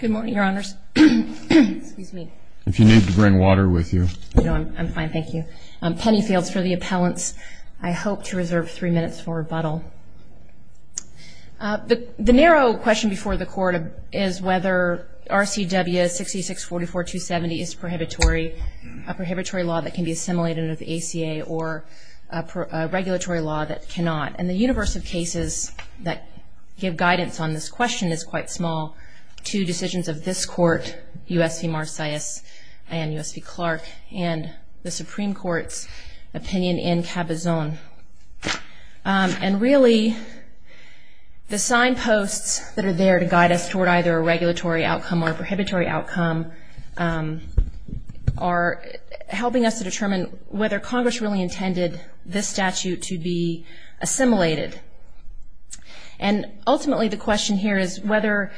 Good morning, your honors. Excuse me. If you need to bring water with you. No, I'm fine, thank you. Penny Fields for the appellants. I hope to reserve three minutes for rebuttal. The narrow question before the court is whether RCW 6644-270 is prohibitory, a prohibitory law that can be assimilated into the ACA or a regulatory law that cannot. And the universe of cases that give guidance on this question is quite small. Two decisions of this court, U.S. v. Marcius and U.S. v. Clark and the Supreme Court's opinion in Cabazon. And really the signposts that are there to guide us toward either a regulatory outcome or a prohibitory outcome are helping us to determine whether Congress really intended this statute to be assimilated. And ultimately the question here is whether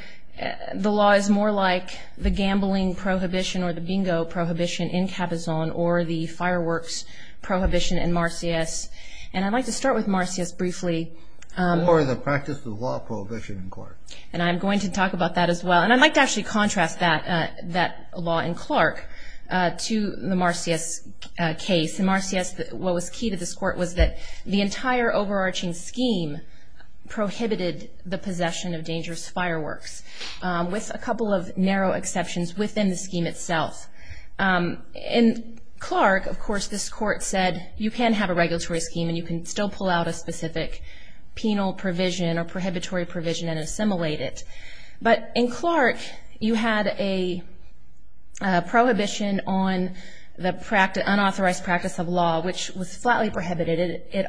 the law is more like the gambling prohibition or the bingo prohibition in Cabazon or the fireworks prohibition in Marcius. And I'd like to start with Marcius briefly. Or the practice of law prohibition in court. And I'm going to talk about that as well. And I'd like to actually contrast that law in Clark to the Marcius case. In Marcius what was key to this court was that the entire overarching scheme prohibited the possession of dangerous fireworks with a couple of narrow exceptions within the scheme itself. In Clark, of course, this court said you can have a regulatory scheme and you can still pull out a specific penal provision or prohibitory provision and assimilate it. But in Clark you had a prohibition on the unauthorized practice of law which was flatly prohibited. It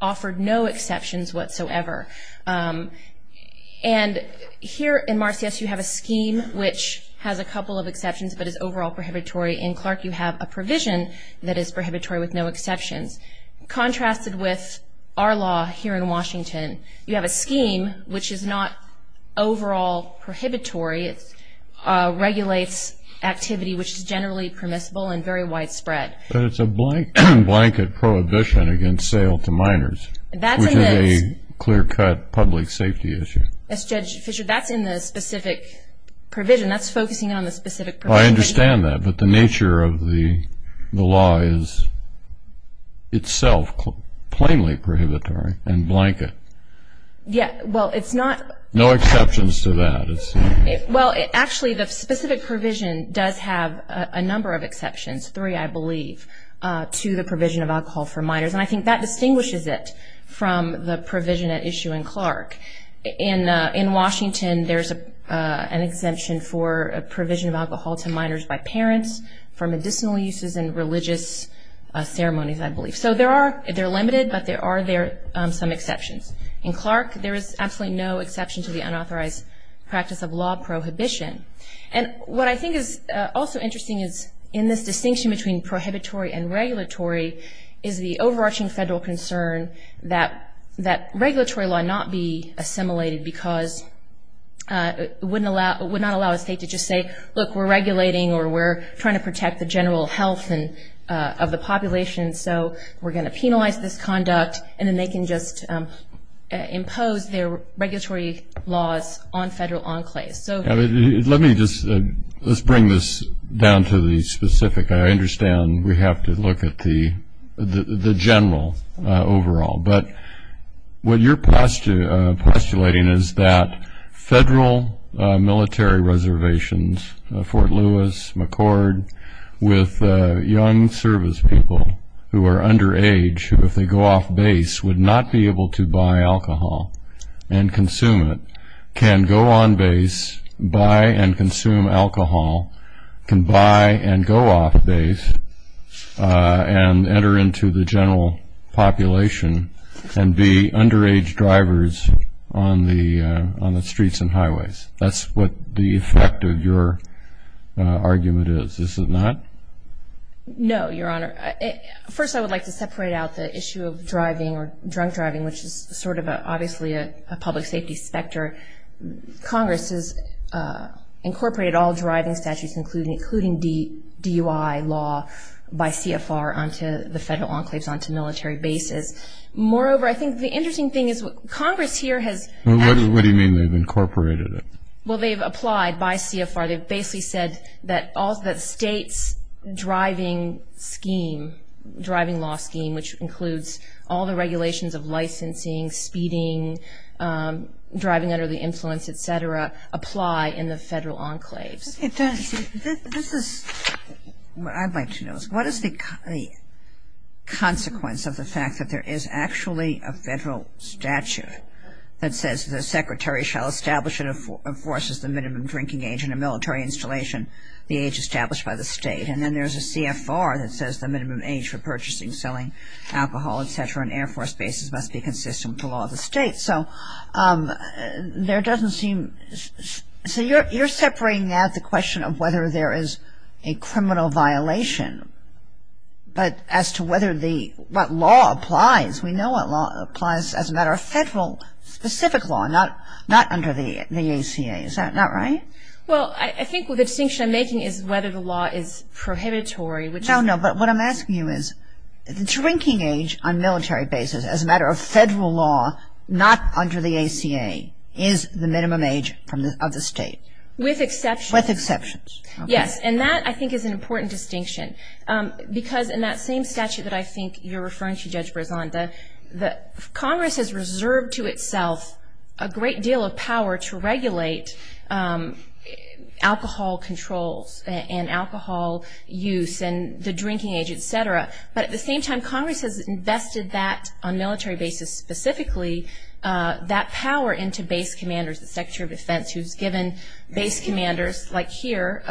offered no exceptions whatsoever. And here in Marcius you have a scheme which has a couple of exceptions but is overall prohibitory. In Clark you have a provision that is prohibitory with no exceptions. Contrasted with our law here in Washington, you have a scheme which is not overall prohibitory. It regulates activity which is generally permissible and very widespread. But it's a blanket prohibition against sale to minors, which is a clear-cut public safety issue. That's in the specific provision. That's focusing on the specific provision. I understand that, but the nature of the law is itself plainly prohibitory and blanket. Yeah, well, it's not. No exceptions to that. Well, actually, the specific provision does have a number of exceptions, three, I believe, to the provision of alcohol for minors, and I think that distinguishes it from the provision at issue in Clark. In Washington, there's an exemption for a provision of alcohol to minors by parents for medicinal uses and religious ceremonies, I believe. So there are, they're limited, but there are some exceptions. In Clark, there is absolutely no exception to the unauthorized practice of law prohibition. And what I think is also interesting is in this distinction between prohibitory and regulatory is the overarching federal concern that regulatory law not be assimilated because it would not allow a state to just say, look, we're regulating or we're trying to protect the general health of the population, so we're going to penalize this conduct, and then they can just impose their regulatory laws on federal enclaves. Let me just, let's bring this down to the specific. I understand we have to look at the general overall, but what you're postulating is that federal military reservations, Fort Lewis, McCord, with young service people who are underage who, if they go off base, would not be able to buy alcohol and consume it, can go on base, buy and consume alcohol, can buy and go off base and enter into the general population and be underage drivers on the streets and highways. That's what the effect of your argument is, is it not? No, Your Honor. First, I would like to separate out the issue of driving or drunk driving, which is sort of obviously a public safety specter. Congress has incorporated all driving statutes, including DUI law by CFR, onto the federal enclaves, onto military bases. Moreover, I think the interesting thing is Congress here has... What do you mean they've incorporated it? Well, they've applied by CFR. They've basically said that states' driving scheme, driving law scheme, which includes all the regulations of licensing, speeding, driving under the influence, et cetera, apply in the federal enclaves. This is what I'd like to know. What is the consequence of the fact that there is actually a federal statute that says the secretary shall establish and enforces the minimum drinking age in a military installation, the age established by the state? And then there's a CFR that says the minimum age for purchasing, selling alcohol, et cetera, in air force bases must be consistent with the law of the state. So there doesn't seem... So you're separating out the question of whether there is a criminal violation, but as to what law applies. We know what law applies as a matter of federal specific law, not under the ACA. Is that not right? Well, I think the distinction I'm making is whether the law is prohibitory, which is... No, no. But what I'm asking you is the drinking age on military bases as a matter of federal law, not under the ACA, is the minimum age of the state. With exceptions. With exceptions. Yes. And that, I think, is an important distinction. Because in that same statute that I think you're referring to, Judge Brisanta, Congress has reserved to itself a great deal of power to regulate alcohol controls and alcohol use and the drinking age, et cetera. But at the same time, Congress has invested that, on military bases specifically, that power into base commanders. The Secretary of Defense who's given base commanders, like here,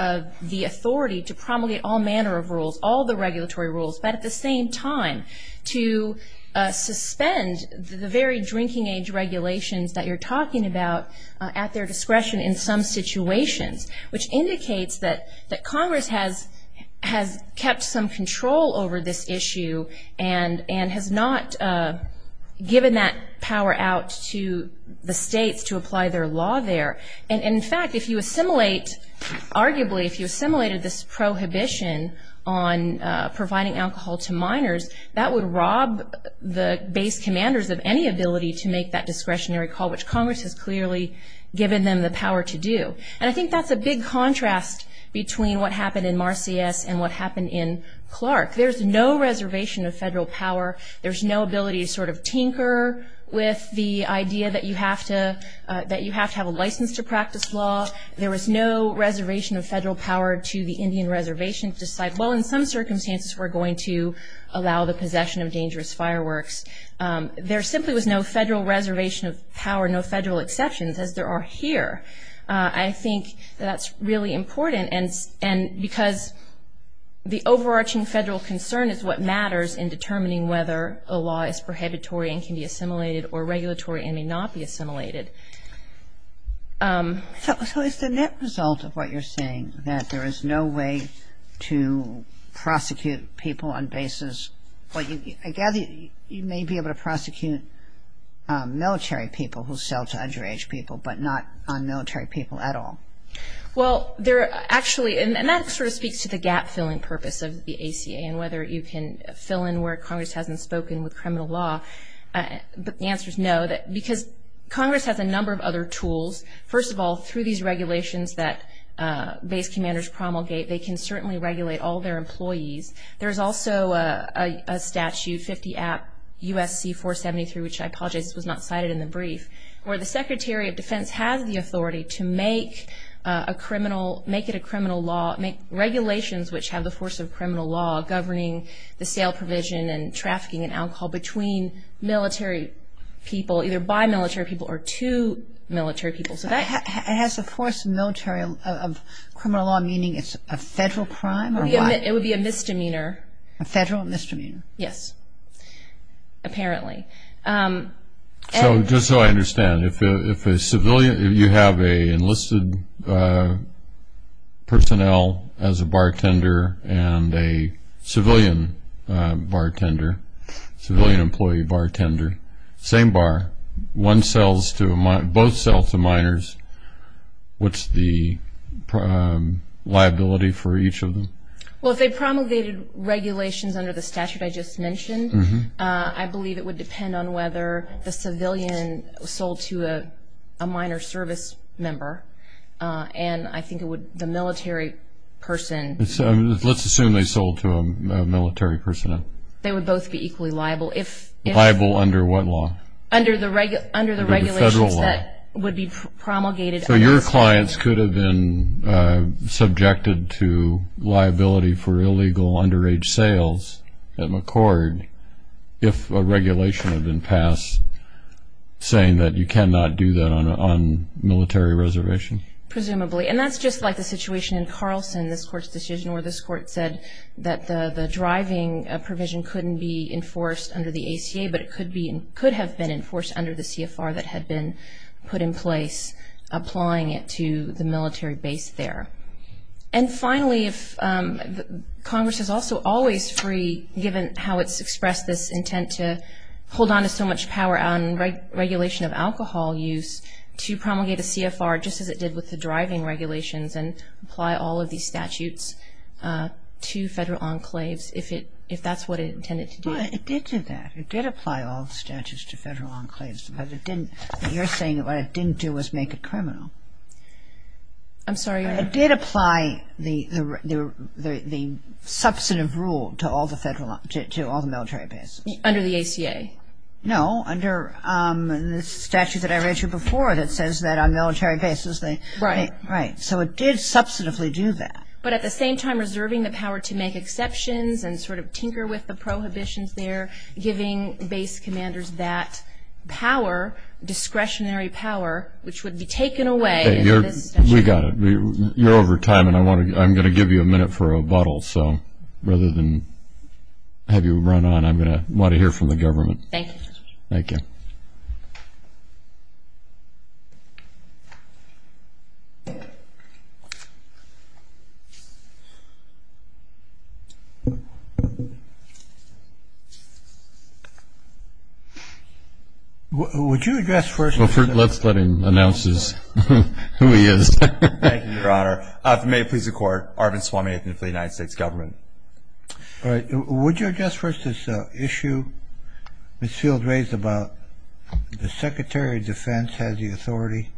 the authority to promulgate all manner of rules, all the regulatory rules, but at the same time to suspend the very drinking age regulations that you're talking about, at their discretion in some situations, which indicates that Congress has kept some control over this issue and has not given that power out to the states to apply their law there. And, in fact, if you assimilate, arguably, if you assimilated this prohibition on providing alcohol to minors, that would rob the base commanders of any ability to make that discretionary call, which Congress has clearly given them the power to do. And I think that's a big contrast between what happened in Marcius and what happened in Clark. There's no reservation of federal power. There's no ability to sort of tinker with the idea that you have to have a license to practice law. There was no reservation of federal power to the Indian reservation to decide, well, in some circumstances we're going to allow the possession of dangerous fireworks. There simply was no federal reservation of power, no federal exceptions, as there are here. I think that that's really important, because the overarching federal concern is what matters in determining whether a law is prohibitory and can be assimilated or regulatory and may not be assimilated. So is the net result of what you're saying that there is no way to prosecute people on bases? I gather you may be able to prosecute military people who sell to underage people, but not on military people at all. Well, actually, and that sort of speaks to the gap-filling purpose of the ACA and whether you can fill in where Congress hasn't spoken with criminal law. But the answer is no, because Congress has a number of other tools. First of all, through these regulations that base commanders promulgate, they can certainly regulate all their employees. There's also a statute, 50 App U.S.C. 473, which I apologize was not cited in the brief, where the Secretary of Defense has the authority to make it a criminal law, make regulations which have the force of criminal law governing the sale provision and trafficking and alcohol between military people, either by military people or to military people. It has the force of criminal law, meaning it's a federal crime? It would be a misdemeanor. A federal misdemeanor? Yes, apparently. So just so I understand, if a civilian, if you have an enlisted personnel as a bartender and a civilian bartender, civilian employee bartender, same bar, one sells to a minor, both sell to minors, what's the liability for each of them? Well, if they promulgated regulations under the statute I just mentioned, I believe it would depend on whether the civilian sold to a minor service member and I think it would, the military person. Let's assume they sold to a military person. They would both be equally liable. Liable under what law? Under the regulations that would be promulgated. So your clients could have been subjected to liability for illegal underage sales at McCord if a regulation had been passed saying that you cannot do that on military reservation? Presumably. And that's just like the situation in Carlson, this Court's decision, where this Court said that the driving provision couldn't be enforced under the ACA, but it could have been enforced under the CFR that had been put in place, applying it to the military base there. And finally, Congress is also always free, given how it's expressed this intent to hold on to so much power on regulation of alcohol use, to promulgate a CFR just as it did with the driving regulations and apply all of these statutes to federal enclaves if that's what it intended to do. Well, it did do that. It did apply all the statutes to federal enclaves, but it didn't. You're saying what it didn't do was make it criminal. I'm sorry. It did apply the substantive rule to all the military bases. Under the ACA? No, under the statute that I read you before that says that on military bases. Right. Right. So it did substantively do that. But at the same time, and sort of tinker with the prohibitions there, giving base commanders that power, discretionary power, which would be taken away under this statute. We got it. You're over time, and I'm going to give you a minute for a bottle. So rather than have you run on, I want to hear from the government. Thank you. Thank you. Would you address first this issue? Let's let him announce who he is. Thank you, Your Honor. If it may please the Court, Arvind Swaminathan for the United States Government. All right. Would you address first this issue Ms. Fields raised about the Secretary of Defense has the authority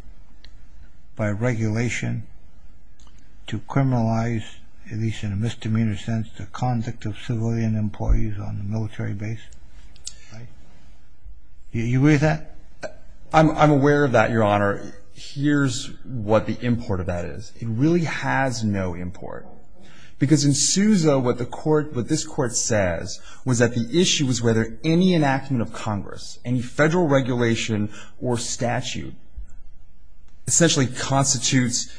by regulation to criminalize, at least in a misdemeanor sense, the conduct of civilian employees on the military base? Right. Are you aware of that? I'm aware of that, Your Honor. Here's what the import of that is. It really has no import. Because in Sousa, what the Court, what this Court says, was that the issue was whether any enactment of Congress, any federal regulation or statute essentially constitutes,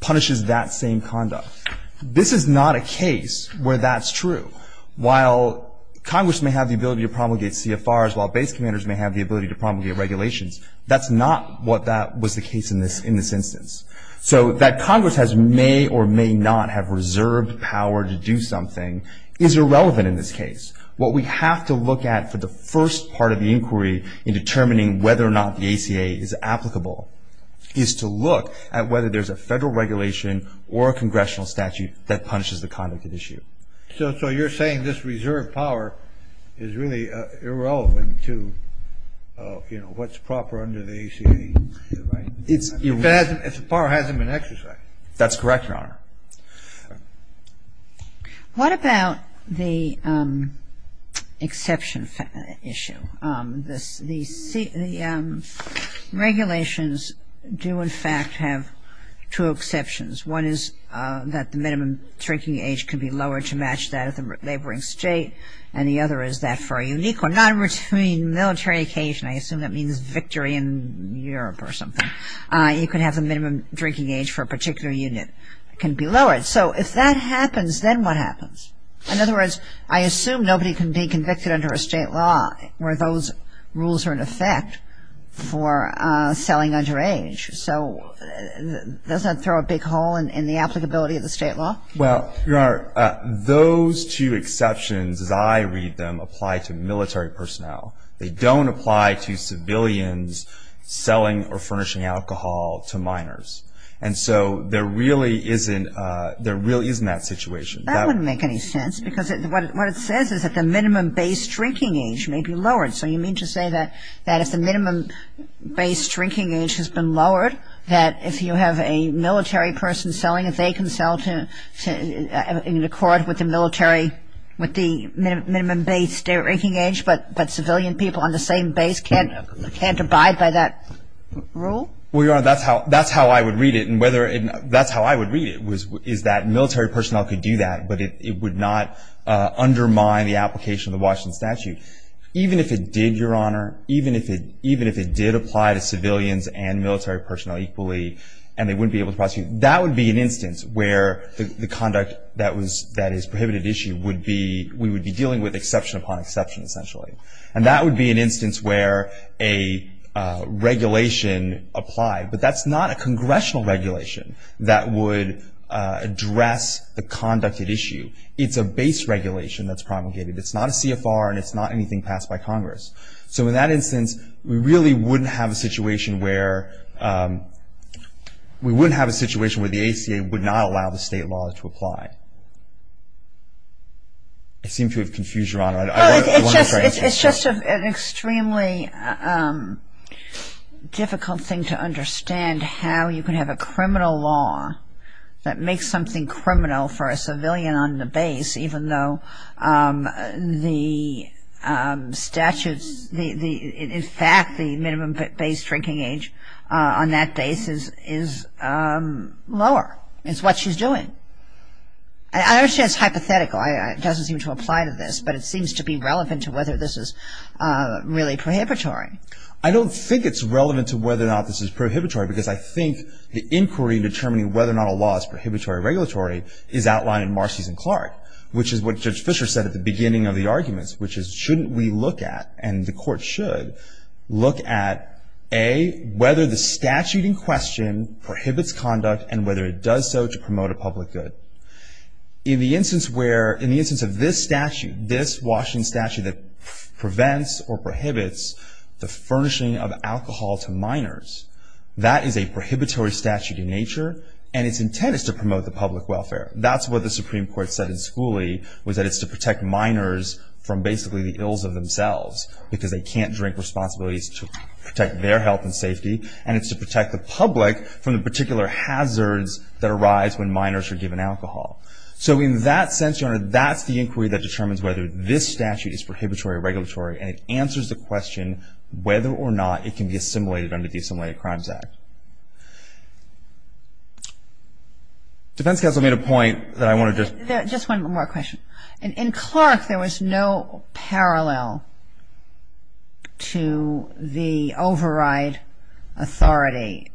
punishes that same conduct. This is not a case where that's true. While Congress may have the ability to promulgate CFRs, while base commanders may have the ability to promulgate regulations, that's not what that was the case in this instance. So that Congress may or may not have reserved power to do something is irrelevant in this case. What we have to look at for the first part of the inquiry in determining whether or not the ACA is applicable is to look at whether there's a federal regulation or a congressional statute that punishes the conduct of the issue. So you're saying this reserved power is really irrelevant to, you know, what's proper under the ACA, right? If the power hasn't been exercised. That's correct, Your Honor. What about the exception issue? The regulations do in fact have two exceptions. One is that the minimum drinking age can be lowered to match that of the laboring state and the other is that for a unique or non-return military occasion, I assume that means victory in Europe or something, you can have the minimum drinking age for a particular unit. It can be lowered. So if that happens, then what happens? In other words, I assume nobody can be convicted under a state law where those rules are in effect for selling underage. So does that throw a big hole in the applicability of the state law? Well, Your Honor, those two exceptions as I read them apply to military personnel. They don't apply to civilians selling or furnishing alcohol to minors. And so there really isn't that situation. That wouldn't make any sense because what it says is that the minimum base drinking age may be lowered. So you mean to say that if the minimum base drinking age has been lowered, that if you have a military person selling it, they can sell in accord with the minimum base drinking age, but civilian people on the same base can't abide by that rule? Well, Your Honor, that's how I would read it. And that's how I would read it is that military personnel could do that, but it would not undermine the application of the Washington Statute. Even if it did, Your Honor, even if it did apply to civilians and military personnel equally and they wouldn't be able to prosecute, that would be an instance where the conduct that is prohibited issue would be we would be dealing with exception upon exception essentially. And that would be an instance where a regulation applied, but that's not a congressional regulation that would address the conducted issue. It's a base regulation that's promulgated. It's not a CFR and it's not anything passed by Congress. So in that instance, we really wouldn't have a situation where the ACA would not allow the state law to apply. I seem to have confused Your Honor. It's just an extremely difficult thing to understand how you can have a criminal law that makes something criminal for a civilian on the base even though the statutes, in fact the minimum base drinking age on that base is lower. It's what she's doing. I don't say it's hypothetical. It doesn't seem to apply to this, but it seems to be relevant to whether this is really prohibitory. I don't think it's relevant to whether or not this is prohibitory because I think the inquiry in determining whether or not a law is prohibitory or regulatory is outlined in Marcy's and Clark, which is what Judge Fischer said at the beginning of the arguments, which is shouldn't we look at and the court should look at, A, whether the statute in question prohibits conduct and whether it does so to promote a public good. In the instance of this statute, this Washington statute that prevents or prohibits the furnishing of alcohol to minors, that is a prohibitory statute in nature and its intent is to promote the public welfare. That's what the Supreme Court said in Schooley, was that it's to protect minors from basically the ills of themselves because they can't drink responsibilities to protect their health and safety and it's to protect the public from the particular hazards that arise when minors are given alcohol. So in that sense, Your Honor, that's the inquiry that determines whether this statute is prohibitory or regulatory and it answers the question whether or not it can be assimilated under the Assimilated Crimes Act. Defense counsel made a point that I wanted to... Just one more question. In Clark, there was no parallel to the override authority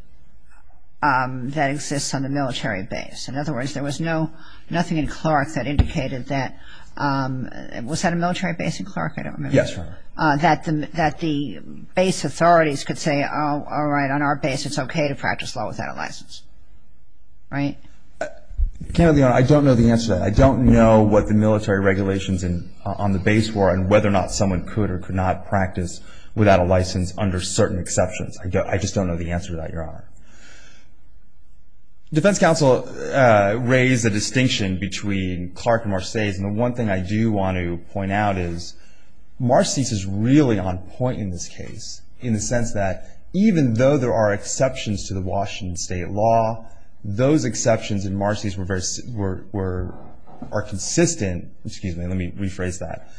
that exists on the military base. In other words, there was nothing in Clark that indicated that... Was that a military base in Clark? Yes, Your Honor. That the base authorities could say, all right, on our base it's okay to practice law without a license, right? I don't know the answer to that. I don't know what the military regulations on the base were and whether or not someone could or could not practice without a license under certain exceptions. I just don't know the answer to that, Your Honor. Defense counsel raised a distinction between Clark and Marseilles and the one thing I do want to point out is Marseilles is really on point in this case in the sense that even though there are exceptions to the Washington state law, those exceptions in Marseilles are consistent. Excuse me. Let me rephrase that.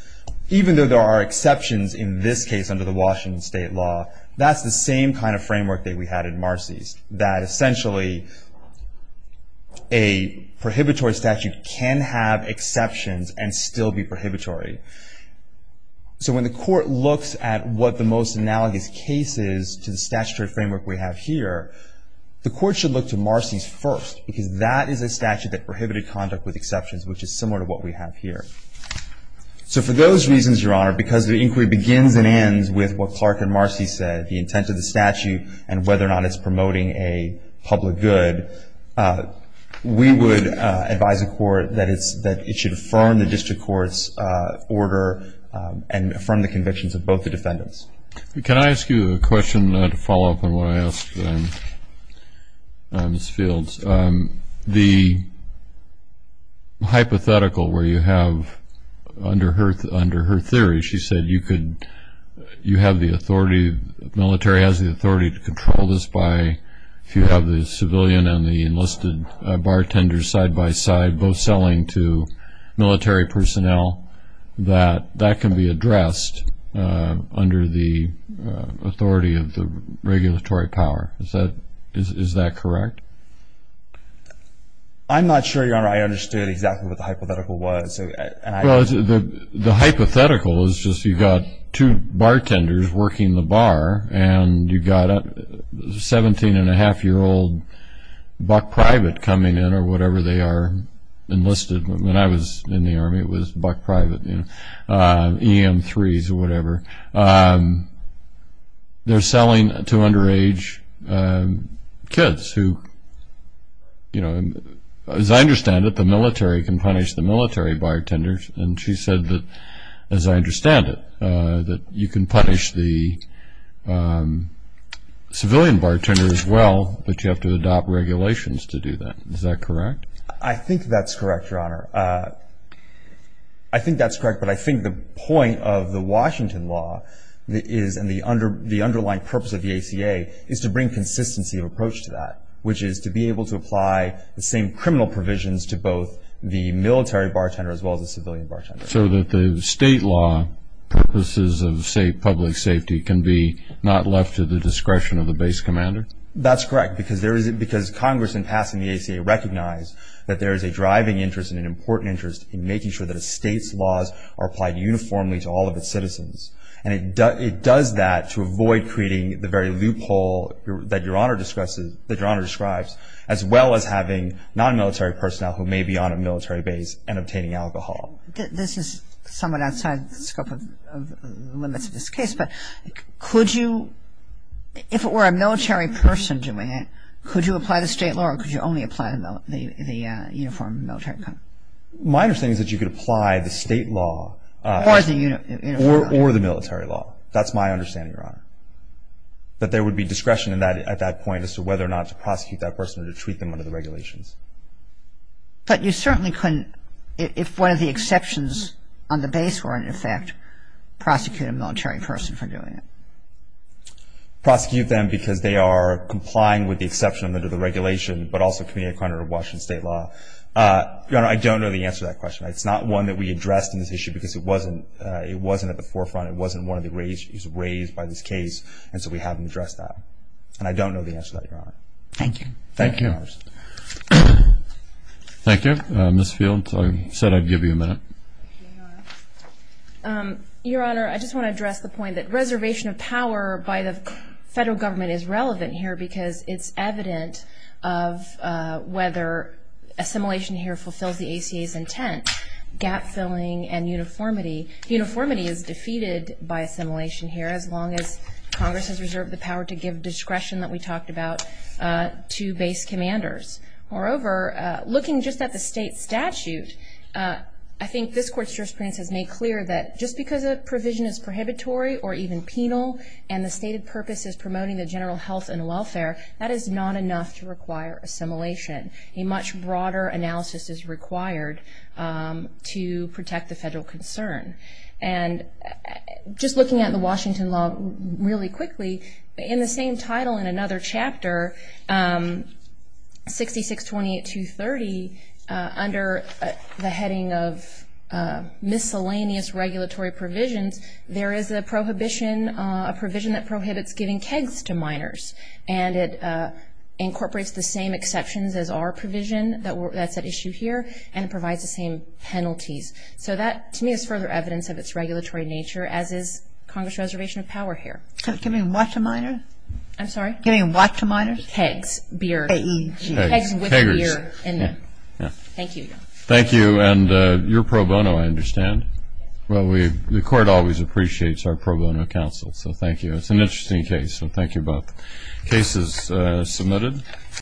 Even though there are exceptions in this case under the Washington state law, that's the same kind of framework that we had in Marseilles, that essentially a prohibitory statute can have exceptions and still be prohibitory. So when the court looks at what the most analogous case is to the statutory framework we have here, the court should look to Marseilles first because that is a statute that prohibited conduct with exceptions, which is similar to what we have here. So for those reasons, Your Honor, because the inquiry begins and ends with what Clark and Marseilles said, the intent of the statute and whether or not it's promoting a public good, we would advise the court that it should affirm the district court's order and affirm the convictions of both the defendants. Can I ask you a question to follow up on what I asked Ms. Fields? The hypothetical where you have under her theory, she said you have the authority, the military has the authority to control this by if you have the civilian and the enlisted bartender side by side both selling to military personnel, that that can be addressed under the authority of the regulatory power. Is that correct? I'm not sure, Your Honor, I understood exactly what the hypothetical was. Well, the hypothetical is just you've got two bartenders working the bar and you've got a 17-and-a-half-year-old buck private coming in or whatever they are enlisted. When I was in the Army, it was buck private, EM3s or whatever. They're selling to underage kids who, as I understand it, the military can punish the military bartenders. And she said that, as I understand it, that you can punish the civilian bartender as well, but you have to adopt regulations to do that. Is that correct? I think that's correct, Your Honor. I think that's correct, but I think the point of the Washington law is and the underlying purpose of the ACA is to bring consistency of approach to that, which is to be able to apply the same criminal provisions to both the military bartender as well as the civilian bartender. So that the state law purposes of, say, public safety, can be not left to the discretion of the base commander? That's correct, because Congress, in passing the ACA, recognized that there is a driving interest and an important interest in making sure that a state's laws are applied uniformly to all of its citizens. And it does that to avoid creating the very loophole that Your Honor describes, as well as having non-military personnel who may be on a military base and obtaining alcohol. This is somewhat outside the scope of the limits of this case, but could you, if it were a military person doing it, could you apply the state law or could you only apply the uniform military conduct? My understanding is that you could apply the state law. Or the military law. Or the military law. That's my understanding, Your Honor. But there would be discretion at that point as to whether or not to prosecute that person or to treat them under the regulations. Prosecute a military person for doing it. Prosecute them because they are complying with the exception under the regulation, but also committing a crime under Washington state law. Your Honor, I don't know the answer to that question. It's not one that we addressed in this issue because it wasn't at the forefront. It wasn't one that was raised by this case, and so we haven't addressed that. And I don't know the answer to that, Your Honor. Thank you. Thank you. Thank you. Ms. Fields, I said I'd give you a minute. Thank you, Your Honor. Your Honor, I just want to address the point that reservation of power by the federal government is relevant here because it's evident of whether assimilation here fulfills the ACA's intent, gap-filling and uniformity. Uniformity is defeated by assimilation here as long as Congress has reserved the power to give discretion that we talked about to base commanders. Moreover, looking just at the state statute, I think this Court's jurisprudence has made clear that just because a provision is prohibitory or even penal and the stated purpose is promoting the general health and welfare, that is not enough to require assimilation. A much broader analysis is required to protect the federal concern. And just looking at the Washington law really quickly, in the same title in another chapter, 6628-230, under the heading of miscellaneous regulatory provisions, there is a prohibition, a provision that prohibits giving kegs to minors, and it incorporates the same exceptions as our provision that's at issue here and provides the same penalties. So that, to me, is further evidence of its regulatory nature, as is Congress' reservation of power here. Giving what to minors? I'm sorry? Giving what to minors? Kegs, beer. K-E-G. Kegs with beer in them. Thank you. Thank you. And you're pro bono, I understand. Well, the Court always appreciates our pro bono counsel, so thank you. It's an interesting case, so thank you both. The case is submitted.